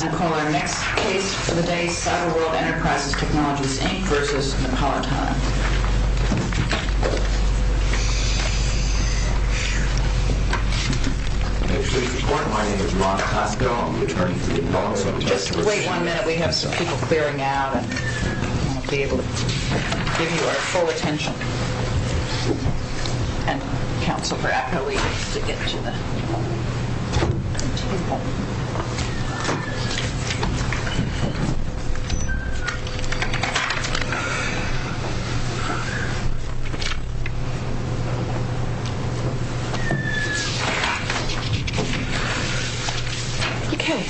I call our next case for the day, Cyberworld Enterprises Technologies, Inc. v. Napolitano. I actually report, my name is Rob Costco, I'm the attorney for Napolitano. Just wait one minute, we have some people clearing out and we won't be able to give you our full attention. And counsel for appellate to get to the table. Okay.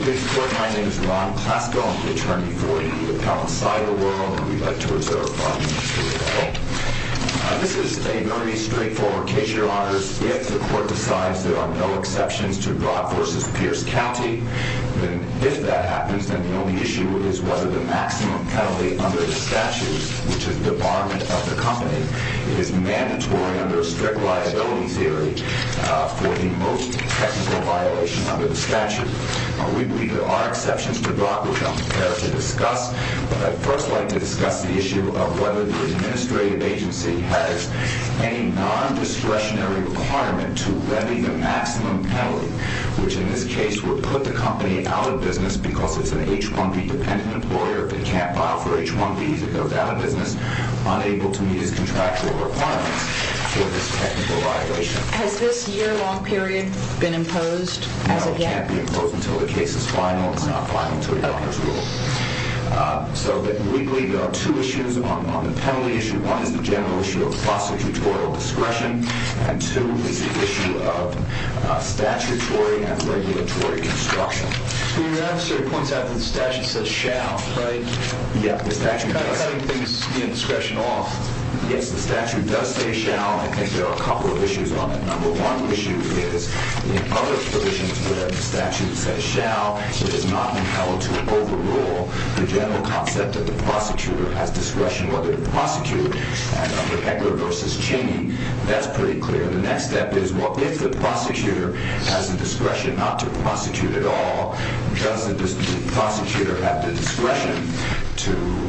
This court, my name is Rob Costco, I'm the attorney for the appellate side of the world. We'd like to reserve five minutes for the case. This is a very straightforward case, your honors. If the court decides there are no exceptions to Broad v. Pierce County, then if that happens, then the only issue is whether the maximum penalty under the statute, which is debarment of the company, is mandatory under strict liability theory for the most technical violation under the statute. We believe there are exceptions to Broad which I'm prepared to discuss, but I'd first like to discuss the issue of whether the administrative agency has any non-discretionary requirement to levy the maximum penalty, which in this case would put the company out of business because it's an H-1B dependent employer, if it can't file for H-1B, it goes out of business, unable to meet its contractual requirements for this technical violation. Has this year-long period been imposed as of yet? No, it can't be imposed until the case is final. It's not final until your honors rule. So we believe there are two issues on the penalty issue. One is the general issue of prostitutorial discretion, and two is the issue of statutory and regulatory construction. The officer points out that the statute says shall, right? Cutting things in discretion off. Yes, the statute does say shall, and I think there are a couple of issues on that. Number one issue is in other provisions where the statute says shall, it is not entailed to overrule the general concept that the prosecutor has discretion, whether to prosecute, and under Edgar v. Cheney, that's pretty clear. The next step is, well, if the prosecutor has the discretion not to prosecute at all, does the prosecutor have the discretion to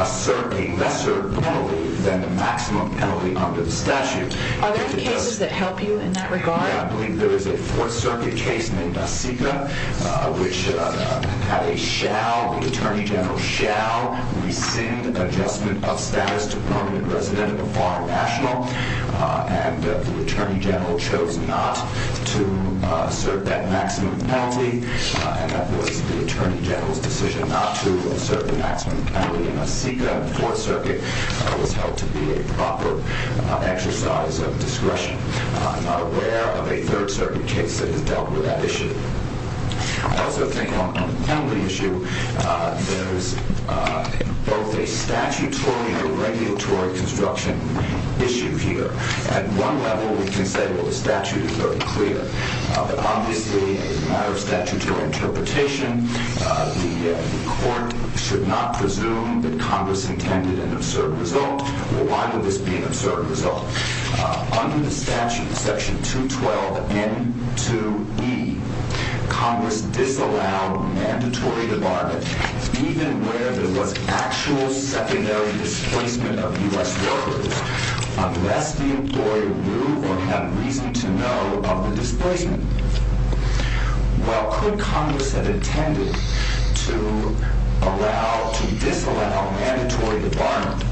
assert a lesser penalty than the maximum penalty under the statute? Are there cases that help you in that regard? Yeah, I believe there is a Fourth Circuit case named Asika, which had a shall, the attorney general shall rescind adjustment of status to permanent resident of a foreign national, and the attorney general chose not to assert that maximum penalty, and that was the attorney general's decision not to assert the maximum penalty, and Asika in the Fourth Circuit was held to be a proper exercise of discretion. I'm not aware of a Third Circuit case that has dealt with that issue. I also think on the penalty issue, there's both a statutory and a regulatory construction issue here. At one level, we can say, well, the statute is very clear, but obviously, as a matter of statutory interpretation, the court should not presume that Congress intended an absurd result. Well, why would this be an absurd result? Under the statute, Section 212 N2E, Congress disallowed mandatory debarment, even where there was actual secondary displacement of U.S. workers, unless the employer knew or had reason to know of the displacement. Well, could Congress have intended to allow, to disallow mandatory debarment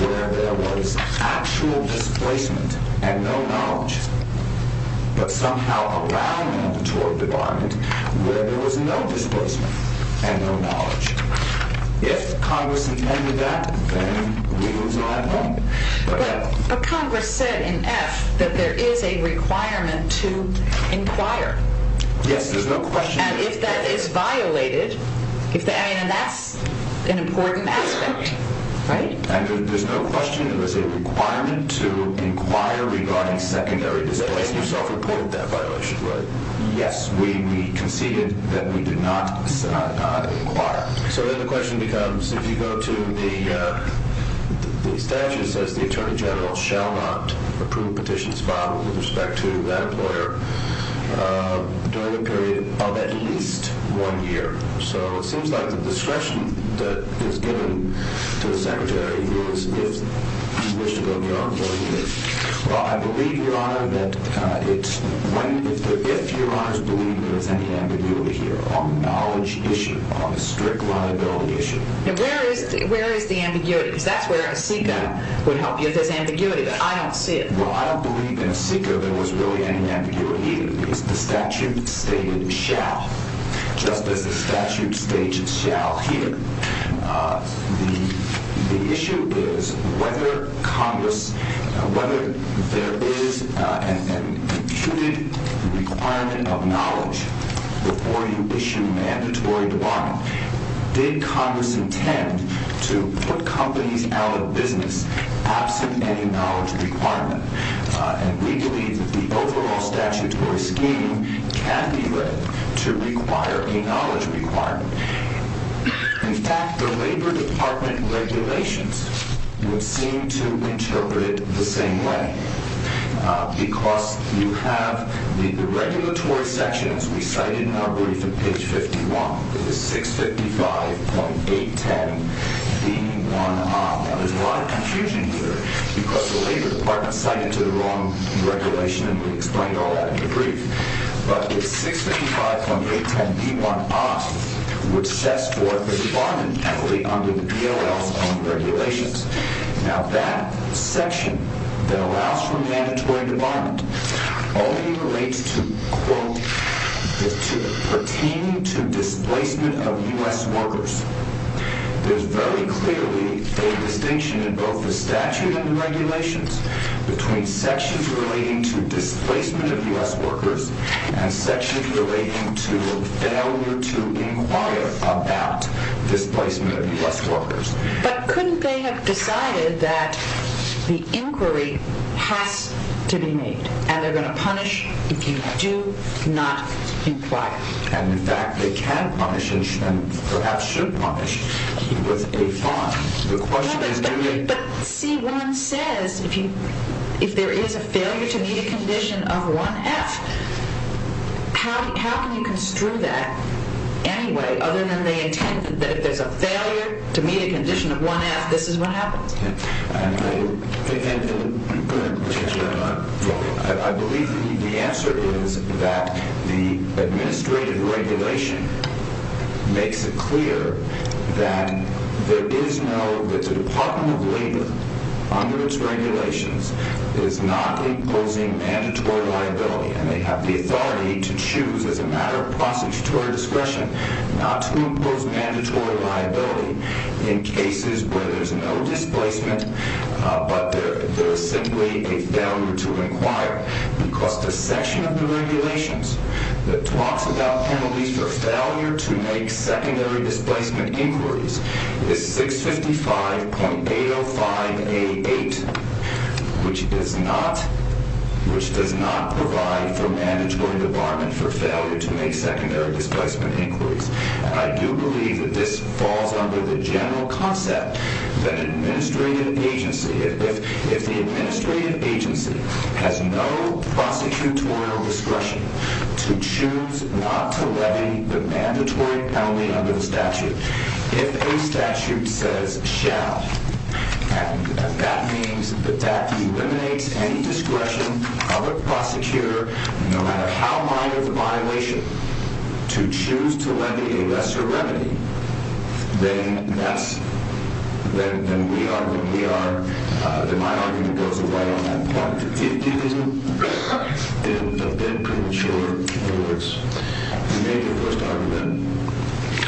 where there was actual displacement and no knowledge, but somehow allow mandatory debarment where there was no displacement and no knowledge? If Congress intended that, then we would not have won. But Congress said in F that there is a requirement to inquire. Yes, there's no question. And if that is violated, and that's an important aspect, right? There's no question that there's a requirement to inquire regarding secondary displacement. You self-reported that violation, right? Yes, we conceded that we did not inquire. So then the question becomes, if you go to the statute, it says, the Attorney General shall not approve petitions filed with respect to that employer during a period of at least one year. So it seems like the discretion that is given to the Secretary is, if you wish to go beyond one year. Well, I believe, Your Honor, that if Your Honors believe there is any ambiguity here on the knowledge issue, on the strict liability issue. Now, where is the ambiguity? Because that's where a SECA would help you. There's ambiguity, but I don't see it. Well, I don't believe in SECA there was really any ambiguity either, because the statute stated shall, just as the statute states shall here. The issue is whether Congress, whether there is an imputed requirement of knowledge before you issue a mandatory debarment. Did Congress intend to put companies out of business absent any knowledge requirement? And we believe that the overall statutory scheme can be read to require a knowledge requirement. In fact, the Labor Department regulations would seem to interpret it the same way, because you have the regulatory sections we cited in our brief in page 51, which is 655.810B1I. Now, there's a lot of confusion here, because the Labor Department cited to the wrong regulation, and we explained all that in the brief. But it's 655.810B1I which sets forth a debarment equity under the DOL's own regulations. Now, that section that allows for mandatory debarment only relates to, quote, pertaining to displacement of U.S. workers. There's very clearly a distinction in both the statute and the regulations between sections relating to displacement of U.S. workers and sections relating to failure to inquire about displacement of U.S. workers. But couldn't they have decided that the inquiry has to be made, and they're going to punish if you do not inquire? And, in fact, they can punish and perhaps should punish with a fine. But C-1 says if there is a failure to meet a condition of 1F, how can you construe that anyway, other than they intend that if there's a failure to meet a condition of 1F, this is what happens? I believe the answer is that the administrative regulation makes it clear that there is no, that the Department of Labor, under its regulations, is not imposing mandatory liability, and they have the authority to choose as a matter of prosecutorial discretion not to impose mandatory liability in cases where there's no displacement but there is simply a failure to inquire because the section of the regulations that talks about penalties for failure to make secondary displacement inquiries is 655.805A8, which does not provide for mandatory debarment for failure to make secondary displacement inquiries. I do believe that this falls under the general concept that an administrative agency, if the administrative agency has no prosecutorial discretion to choose not to levy the mandatory penalty under the statute, if a statute says, shall, and that means that that eliminates any discretion of a prosecutor, no matter how minor the violation, to choose to levy a lesser remedy, then that's, then we are, then my argument goes away on that point. It is a bit premature, Alex, you made your first argument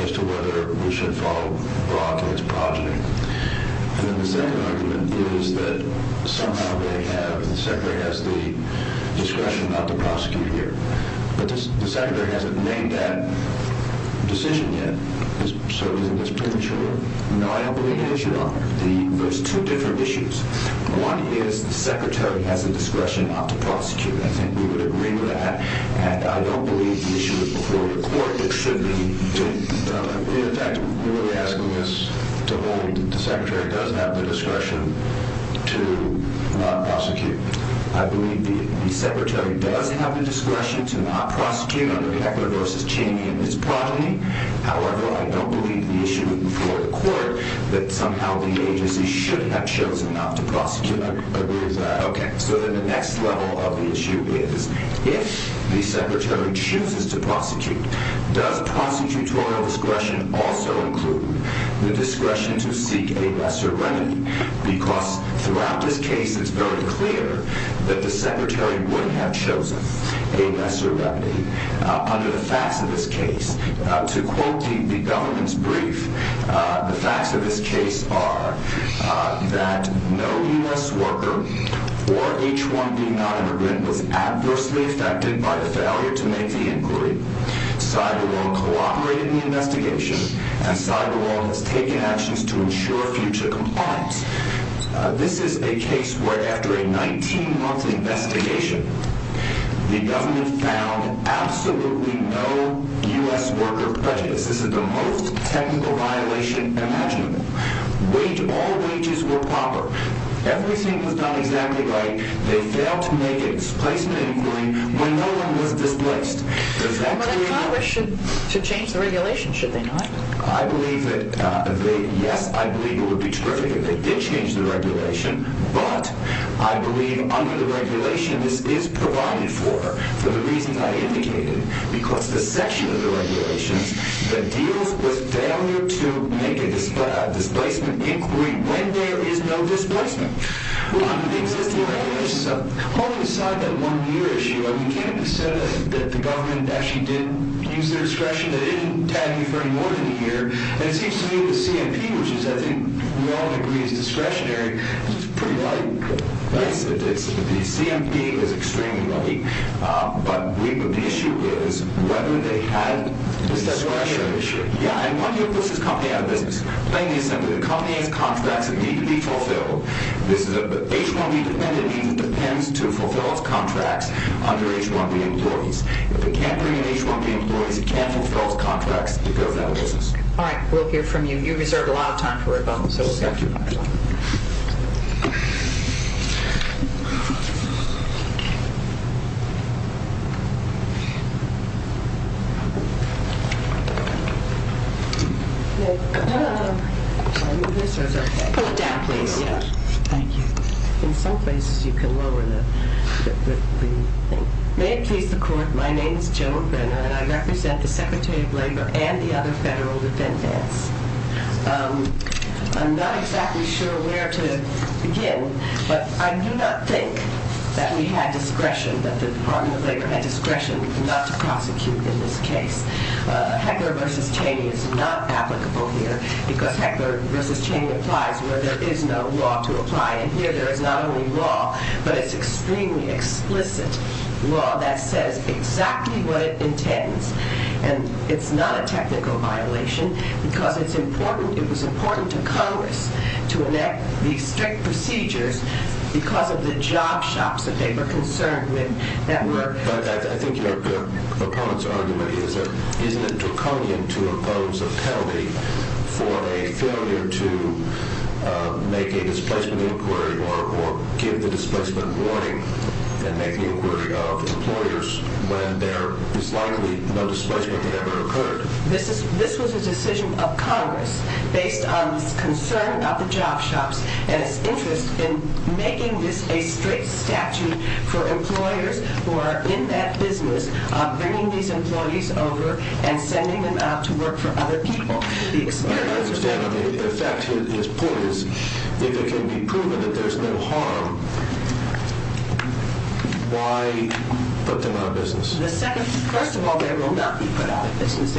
as to whether we should follow Brock and his project, and then the second argument is that somehow they have, the Secretary has the discretion not to prosecute here, but the Secretary hasn't made that decision yet, so isn't this premature? No, I don't believe it is, Your Honor. There's two different issues. One is the Secretary has the discretion not to prosecute. I think we would agree with that, and I don't believe the issue is before the court that should be done. In fact, we're really asking this to hold that the Secretary does have the discretion to not prosecute. I believe the Secretary does have the discretion to not prosecute under Heckler v. Chaney and his progeny. However, I don't believe the issue is before the court that somehow the agency should have chosen not to prosecute. I agree with that. Okay, so then the next level of the issue is if the Secretary chooses to prosecute, does prosecutorial discretion also include the discretion to seek a lesser remedy? Because throughout this case, it's very clear that the Secretary would have chosen a lesser remedy under the facts of this case. To quote the government's brief, the facts of this case are that no U.S. worker or H-1B nonimmigrant was adversely affected by the failure to make the inquiry. Cyberwall cooperated in the investigation, and Cyberwall has taken actions to ensure future compliance. This is a case where after a 19-month investigation, the government found absolutely no U.S. worker prejudice. This is the most technical violation imaginable. All wages were proper. Everything was done exactly right. They failed to make a displacement inquiry when no one was displaced. Does that clear you up? Well, then Congress should change the regulation, should they not? Yes, I believe it would be terrific if they did change the regulation, but I believe under the regulation this is provided for, for the reasons I indicated, because the section of the regulations that deals with failure to make a displacement inquiry when there is no displacement. The existing regulations, holding aside that one-year issue, you can't dissent that the government actually did use their discretion, that it didn't tag you for any more than a year, and it seems to me the CMP, which I think we all agree is discretionary, is pretty light. The CMP is extremely light, but the issue is whether they had discretion. Yeah, and one year puts this company out of business. Plain and simple, the company has contracts that need to be fulfilled. This is a H-1B dependent agency that depends to fulfill its contracts under H-1B employees. If it can't bring in H-1B employees, it can't fulfill its contracts to go to that business. All right, we'll hear from you. You reserved a lot of time for Obama. Thank you. Thank you. May it please the Court, my name is Joan Brenner, and I represent the Secretary of Labor and the other federal defendants. I'm not exactly sure where to begin, but I do not think that we had discretion, that the Department of Labor had discretion not to prosecute in this case. Heckler v. Cheney is not applicable here, because Heckler v. Cheney applies where there is no law to apply, and here there is not only law, but it's extremely explicit law that says exactly what it intends, and it's not a technical violation, because it was important to Congress to enact these strict procedures because of the job shops that they were concerned with. But I think your opponent's argument is that isn't it draconian to impose a penalty for a failure to make a displacement inquiry or give the displacement warning and make an inquiry of employers when there is likely no displacement that ever occurred? This was a decision of Congress based on the concern of the job shops and its interest in making this a strict statute for employers who are in that business bringing these employees over and sending them out to work for other people. I understand. I mean, if the effect is poised, if it can be proven that there's no harm, why put them out of business? First of all, they will not be put out of business.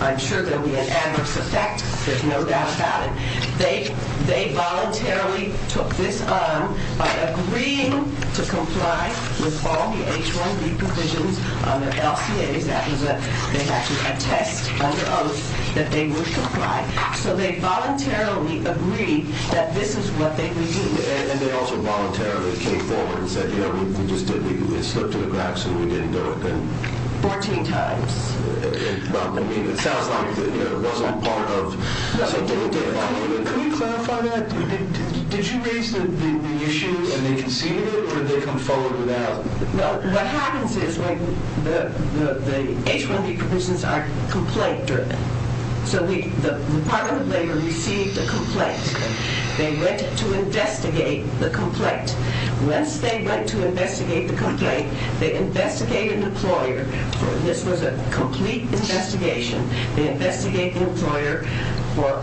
I'm sure there will be an adverse effect. There's no doubt about it. They voluntarily took this on by agreeing to comply with all the H-1B provisions on the LCA. That was a test under oath that they would comply. So they voluntarily agreed that this is what they would do. And they also voluntarily came forward and said, you know, we just did it. We slipped to the cracks and we didn't do it. Fourteen times. I mean, it sounds like it wasn't part of something they did. Can you clarify that? Did you raise the issue and they conceded it or did they come forward without? Well, what happens is when the H-1B provisions are complaint-driven. They went to investigate the complaint. Once they went to investigate the complaint, they investigated an employer. This was a complete investigation. They investigate the employer for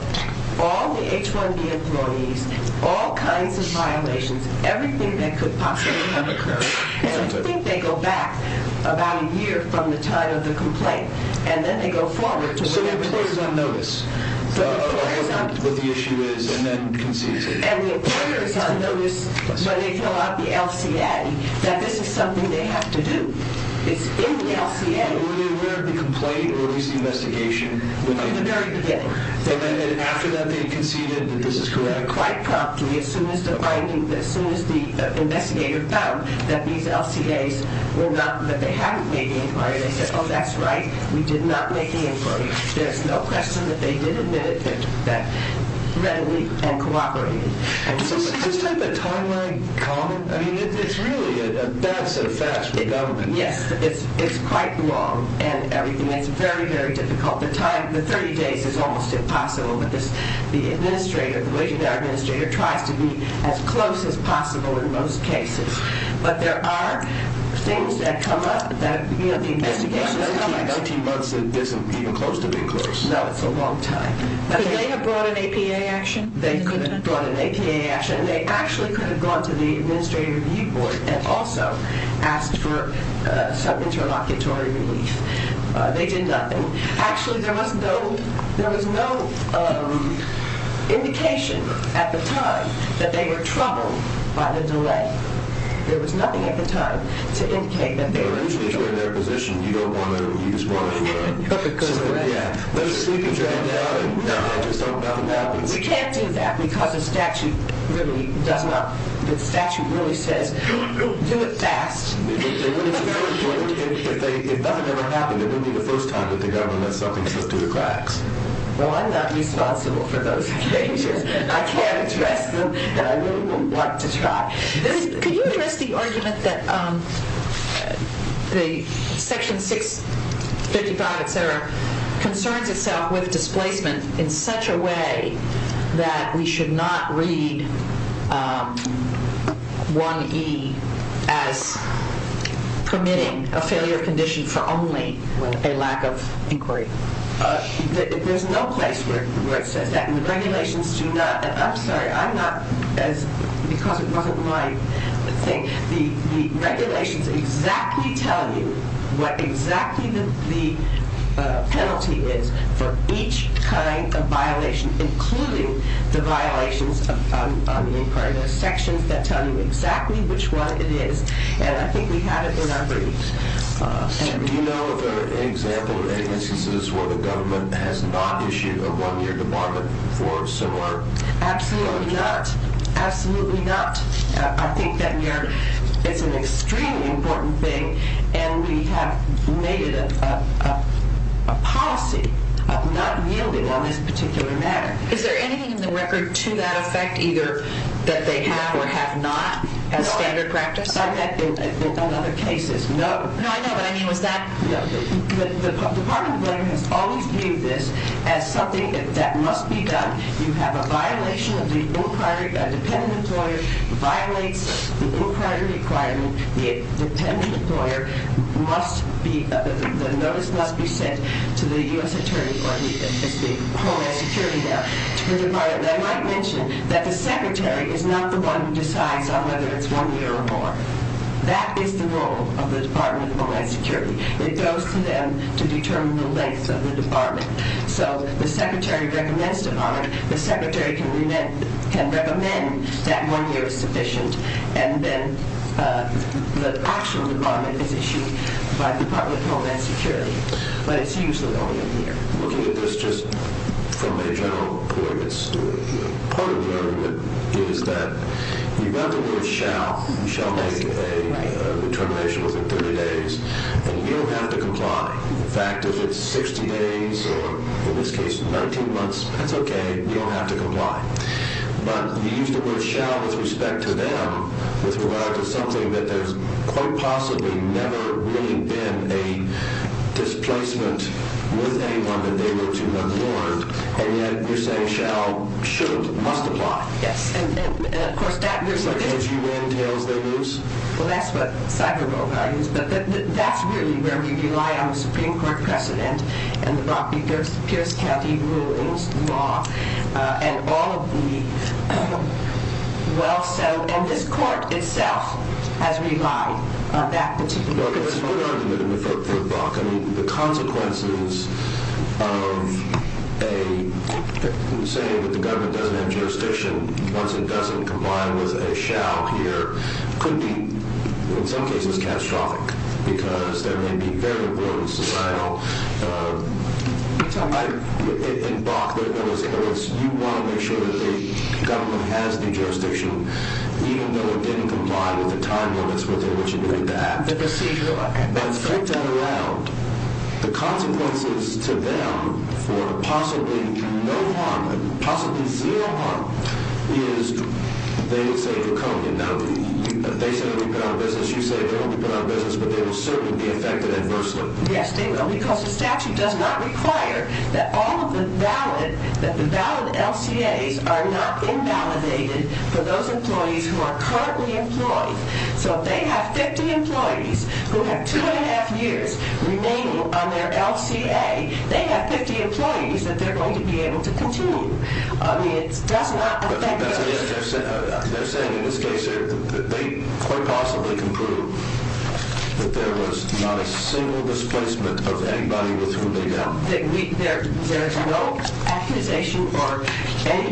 all the H-1B employees, all kinds of violations, everything that could possibly have occurred. And I think they go back about a year from the time of the complaint, and then they go forward to whatever they found. So the employer is on notice of what the issue is and then concedes it. And the employer is on notice when they fill out the LCA, that this is something they have to do. It's in the LCA. Were they aware of the complaint or of this investigation? In the very beginning. And then after that they conceded that this is correct? Quite promptly, as soon as the finding, as soon as the investigator found that these LCAs were not, that they hadn't made the inquiry, they said, oh, that's right, we did not make the inquiry. There's no question that they did admit it readily and cooperated. Is this type of timeline common? I mean, it's really a dance in a fashion with government. Yes, it's quite long and everything. It's very, very difficult. The time, the 30 days is almost impossible, but the administrator, the wage-payer administrator tries to be as close as possible in most cases. But there are things that come up that, you know, the investigation is coming to. 19 months isn't even close to being close. No, it's a long time. Could they have brought an APA action? They could have brought an APA action. They actually could have gone to the Administrative Review Board and also asked for some interlocutory relief. They did nothing. Actually, there was no indication at the time that they were troubled by the delay. There was nothing at the time to indicate that they were troubled. But usually, if you're in their position, you don't want to use one of the systems. Yeah. Let us sleep and drag it out and just hope nothing happens. We can't do that because the statute really does not – the statute really says, do it fast. If nothing ever happened, it wouldn't be the first time that the government lets something slip through the cracks. Well, I'm not responsible for those changes. I can't address them, and I really don't want to try. Could you address the argument that Section 655, et cetera, concerns itself with displacement in such a way that we should not read 1E as permitting a failure condition for only a lack of inquiry? There's no place where it says that, and the regulations do not – the regulations exactly tell you what exactly the penalty is for each kind of violation, including the violations on the inquiry. There are sections that tell you exactly which one it is, and I think we have it in our briefs. Do you know of any example of any instances where the government has not issued a one-year debarment for similar? Absolutely not. Absolutely not. I think that we are – it's an extremely important thing, and we have made it a policy of not yielding on this particular matter. Is there anything in the record to that effect, either that they have or have not, as standard practice? No, I've had that in other cases. No. No, I know, but I mean, was that – The Department of Labor has always viewed this as something that must be done. You have a violation of the inquiry. A dependent employer violates the inquiry requirement. The dependent employer must be – the notice must be sent to the U.S. Attorney, or it's the Homeland Security there, to the department. And I might mention that the secretary is not the one who decides on whether it's one year or more. That is the role of the Department of Homeland Security. It goes to them to determine the length of the debarment. So the secretary recommends debarment. The secretary can recommend that one year is sufficient, and then the actual debarment is issued by the Department of Homeland Security. But it's usually only a year. Looking at this just from a general point of view, part of the argument is that you've got the word shall. You shall make a determination within 30 days, and you don't have to comply. In fact, if it's 60 days or, in this case, 19 months, that's okay. You don't have to comply. But you use the word shall with respect to them with regard to something that there's quite possibly never really been a displacement with anyone that they were to have warned, and yet you're saying shall, should, must apply. Yes. And, of course, that – As you win, tails they lose. Well, that's what cyberbullying is. But that's really where we rely on the Supreme Court precedent and the Brock v. Pierce County rulings, law, and all of the well-settled – and this court itself has relied on that particular precedent. Well, that's a good argument for Brock. I mean, the consequences of a – saying that the government doesn't have jurisdiction once it doesn't, combined with a shall here, could be, in some cases, catastrophic because there may be very rude societal – in Brock, you want to make sure that the government has the jurisdiction even though it didn't comply with the time limits within which it did that. And flip that around, the consequences to them for possibly no harm, and possibly zero harm, is they say they'll come. Now, if they say they won't be put out of business, you say they won't be put out of business, but they will certainly be affected adversely. Yes, they will because the statute does not require that all of the valid – that the valid LCAs are not invalidated for those employees who are currently employed. So if they have 50 employees who have two and a half years remaining on their LCA, they have 50 employees that they're going to be able to continue. I mean, it does not affect – They're saying in this case that they quite possibly can prove that there was not a single displacement of anybody with whom they dealt. There's no accusation or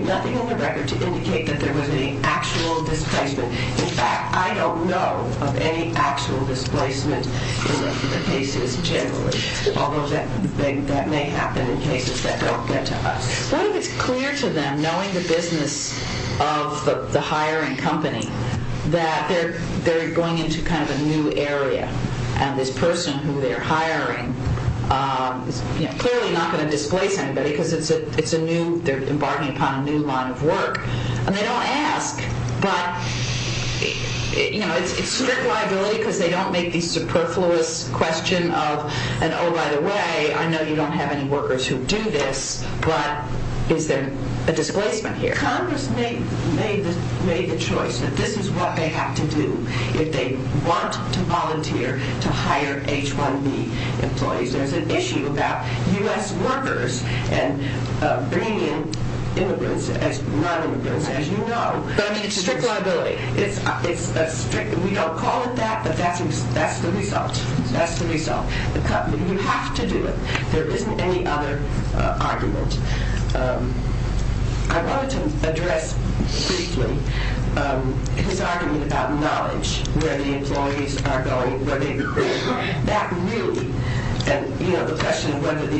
nothing in the record to indicate that there was any actual displacement. In fact, I don't know of any actual displacement in the cases generally, although that may happen in cases that don't get to us. What if it's clear to them, knowing the business of the hiring company, that they're going into kind of a new area, and this person who they're hiring is clearly not going to displace anybody because it's a new – they're embarking upon a new line of work. And they don't ask, but, you know, it's strict liability because they don't make the superfluous question of, and oh, by the way, I know you don't have any workers who do this, but is there a displacement here? Congress made the choice that this is what they have to do if they want to volunteer to hire H-1B employees. There's an issue about U.S. workers and bringing in immigrants, non-immigrants, as you know. But, I mean, it's strict liability. It's a strict – we don't call it that, but that's the result. That's the result. The company, you have to do it. There isn't any other argument. I wanted to address briefly his argument about knowledge, where the employees are going, where they're going. That really – and, you know, the question of whether the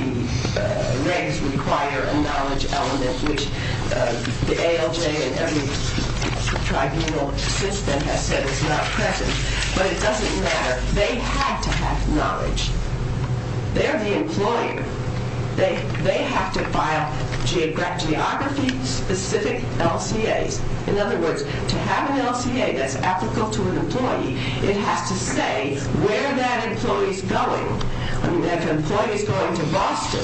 regs require a knowledge element, which the ALJ and every tribunal since then has said is not present, but it doesn't matter. They have to have knowledge. They're the employer. They have to file geography-specific LCAs. In other words, to have an LCA that's applicable to an employee, it has to say where that employee is going. I mean, if an employee is going to Boston,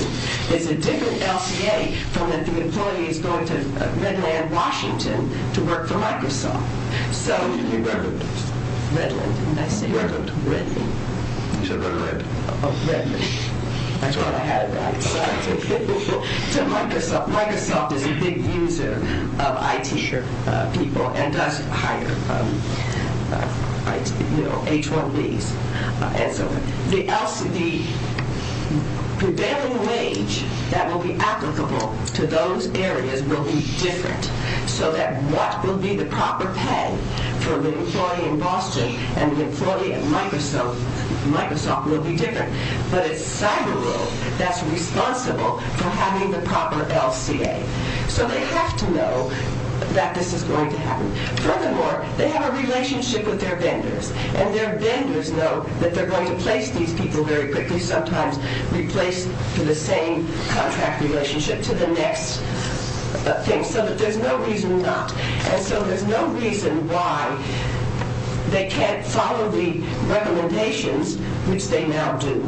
it's a different LCA from if the employee is going to Redland, Washington to work for Microsoft. So – Redland. Redland, didn't I say? Redland. Redland. You said Redland. Oh, Redland. I thought I had it right. To Microsoft. Microsoft is a big user of IT people and does hire, you know, H-1Bs. The prevailing wage that will be applicable to those areas will be different so that what will be the proper pay for the employee in Boston and the employee at Microsoft will be different. But it's cyber rule that's responsible for having the proper LCA. So they have to know that this is going to happen. Furthermore, they have a relationship with their vendors, and their vendors know that they're going to place these people very quickly, sometimes replaced for the same contract relationship to the next thing, so that there's no reason not. And so there's no reason why they can't follow the recommendations, which they now do,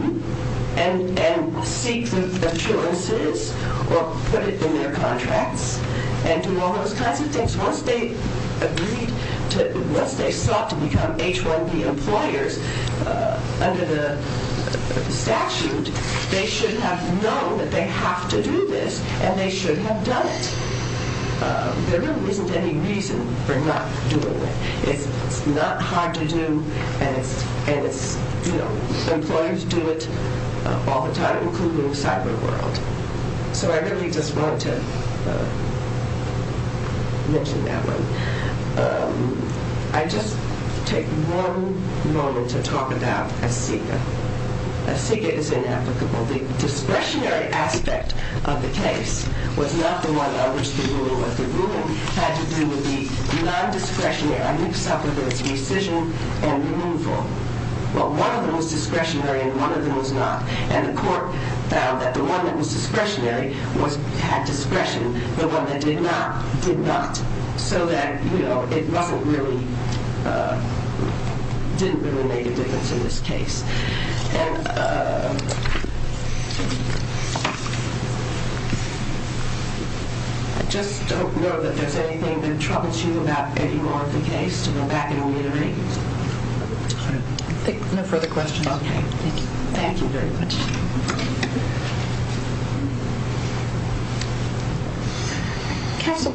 and seek the assurances or put it in their contracts and do all those kinds of things. Once they sought to become H-1B employers under the statute, they should have known that they have to do this, and they should have done it. There really isn't any reason for not doing it. It's not hard to do, and employers do it all the time, including in the cyber world. So I really just wanted to mention that one. I just take one moment to talk about ASEGA. ASEGA is inapplicable. The discretionary aspect of the case was not the one on which the ruling was. The ruling had to do with the non-discretionary. I mix up a bit. It's rescission and removal. Well, one of them was discretionary and one of them was not, and the court found that the one that was discretionary had discretion. The one that did not, did not. So that, you know, it didn't really make a difference in this case. I just don't know that there's anything that troubles you about any more of the case, to go back and reiterate. No further questions. Thank you very much. Counsel,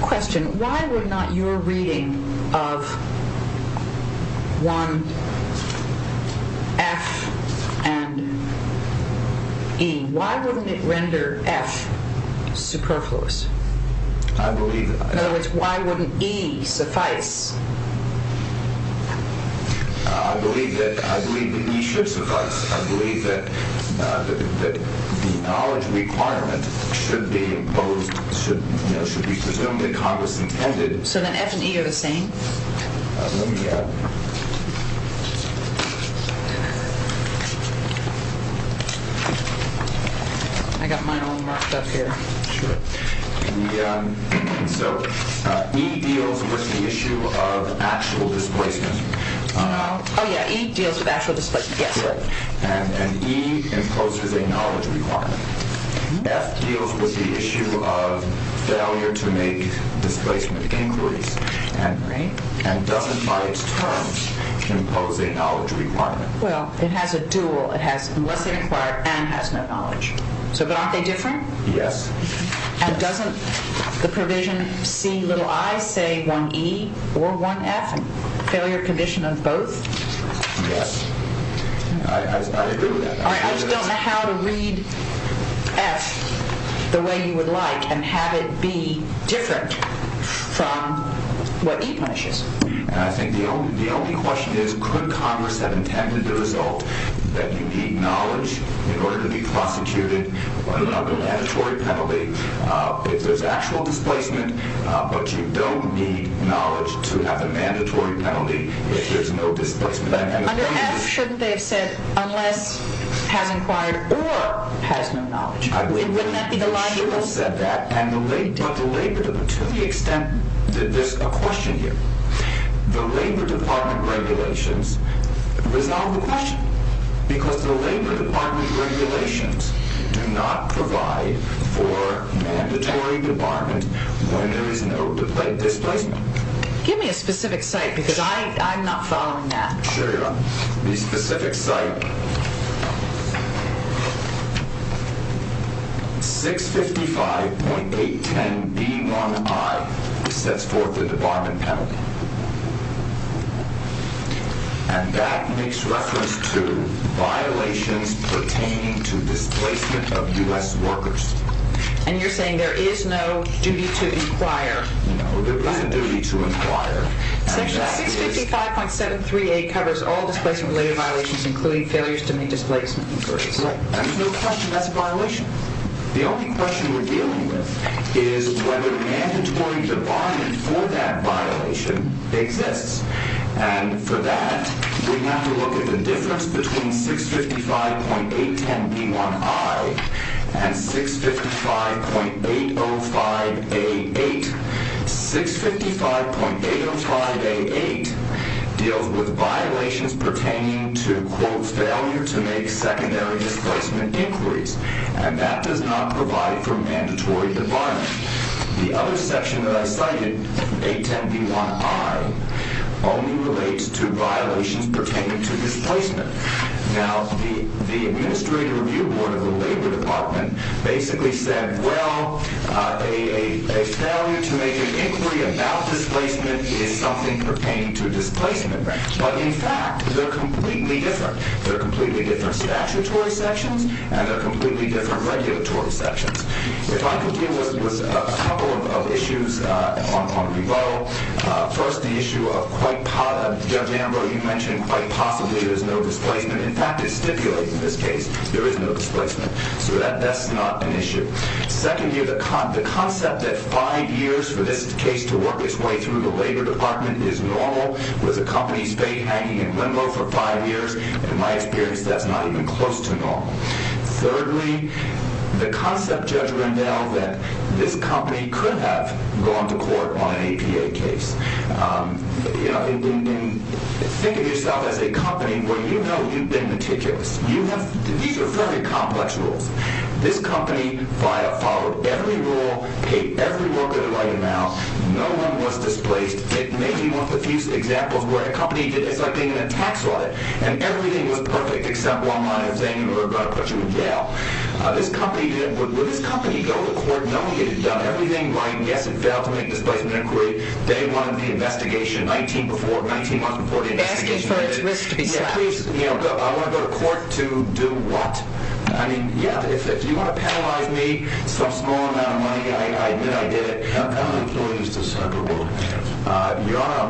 question. Why would not your reading of 1F and E, why wouldn't it render F superfluous? I believe that. In other words, why wouldn't E suffice? I believe that E should suffice. I believe that the knowledge requirement should be imposed, should be presumed that Congress intended. So then F and E are the same? Yeah. I got mine all marked up here. Sure. So E deals with the issue of actual displacement. Oh, yeah, E deals with actual displacement, yes. And E imposes a knowledge requirement. F deals with the issue of failure to make displacement inquiries and doesn't by its terms impose a knowledge requirement. Well, it has a dual. It has unless they're required and has no knowledge. But aren't they different? Yes. And doesn't the provision C i say 1E or 1F, failure condition of both? Yes. I agree with that. All right, I just don't know how to read F the way you would like and have it be different from what E punishes. I think the only question is could Congress have intended the result that you need knowledge in order to be prosecuted under a mandatory penalty if there's actual displacement but you don't need knowledge to have a mandatory penalty if there's no displacement. Under F shouldn't they have said unless has inquired or has no knowledge? Wouldn't that be the logical? They should have said that, but to the extent that there's a question here, the Labor Department regulations resolve the question because the Labor Department regulations do not provide for mandatory debarment when there is no displacement. Give me a specific site because I'm not following that. Sure you are. The specific site 655.810B1I sets forth the debarment penalty. And that makes reference to violations pertaining to displacement of U.S. workers. And you're saying there is no duty to inquire. No, there is a duty to inquire. Section 655.738 covers all displacement-related violations including failures to meet displacement inquiries. Correct. There's no question that's a violation. The only question we're dealing with is whether the mandatory debarment for that violation exists. And for that, we have to look at the difference between 655.810B1I and 655.805A8. 655.805A8 deals with violations pertaining to, quote, failure to make secondary displacement inquiries. And that does not provide for mandatory debarment. The other section that I cited, 810B1I, only relates to violations pertaining to displacement. Now, the Administrative Review Board of the Labor Department basically said, well, a failure to make an inquiry about displacement is something pertaining to displacement. But, in fact, they're completely different. They're completely different statutory sections, and they're completely different regulatory sections. If I could deal with a couple of issues on rebuttal, first, the issue of quite possibly there's no displacement. In fact, it stipulates in this case there is no displacement. So that's not an issue. Second, the concept that five years for this case to work its way through the Labor Department is normal, with the company's fate hanging in limbo for five years, in my experience, that's not even close to normal. Thirdly, the concept judgment now that this company could have gone to court on an APA case. Think of yourself as a company where you know you've been meticulous. These are fairly complex rules. This company followed every rule, paid every worker the right amount. No one was displaced. It may be one of the few examples where a company, it's like being in a tax audit, and everything was perfect except one minor thing, and we were going to put you in jail. When this company got to court, nobody had done everything right. Yes, it failed to make displacement inquiry. They wanted the investigation 19 months before the investigation. Asking for its risk to be satisfied. I want to go to court to do what? I mean, yeah, if you want to penalize me some small amount of money, I admit I did it. I'm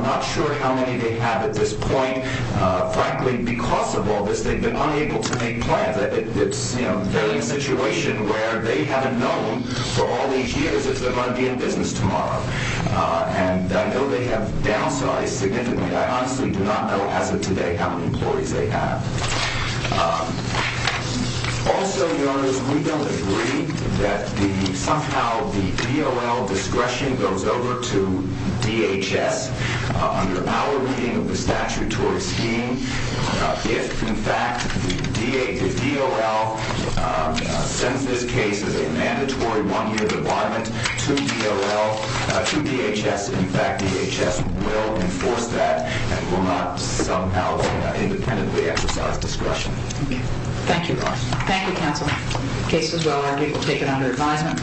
not sure how many they have at this point. Frankly, because of all this, they've been unable to make plans. They're in a situation where they haven't known for all these years if they're going to be in business tomorrow. And I know they have downsized significantly. I honestly do not know as of today how many employees they have. Also, Your Honor, we don't agree that somehow the DOL discretion goes over to DHS. Under our reading of the statutory scheme, if, in fact, the DOL sends this case as a mandatory one-year debarment to DHS, in fact, DHS will enforce that and will not somehow independently exercise discretion. Thank you. Thank you, counsel. The case is well argued. We'll take it under advisement.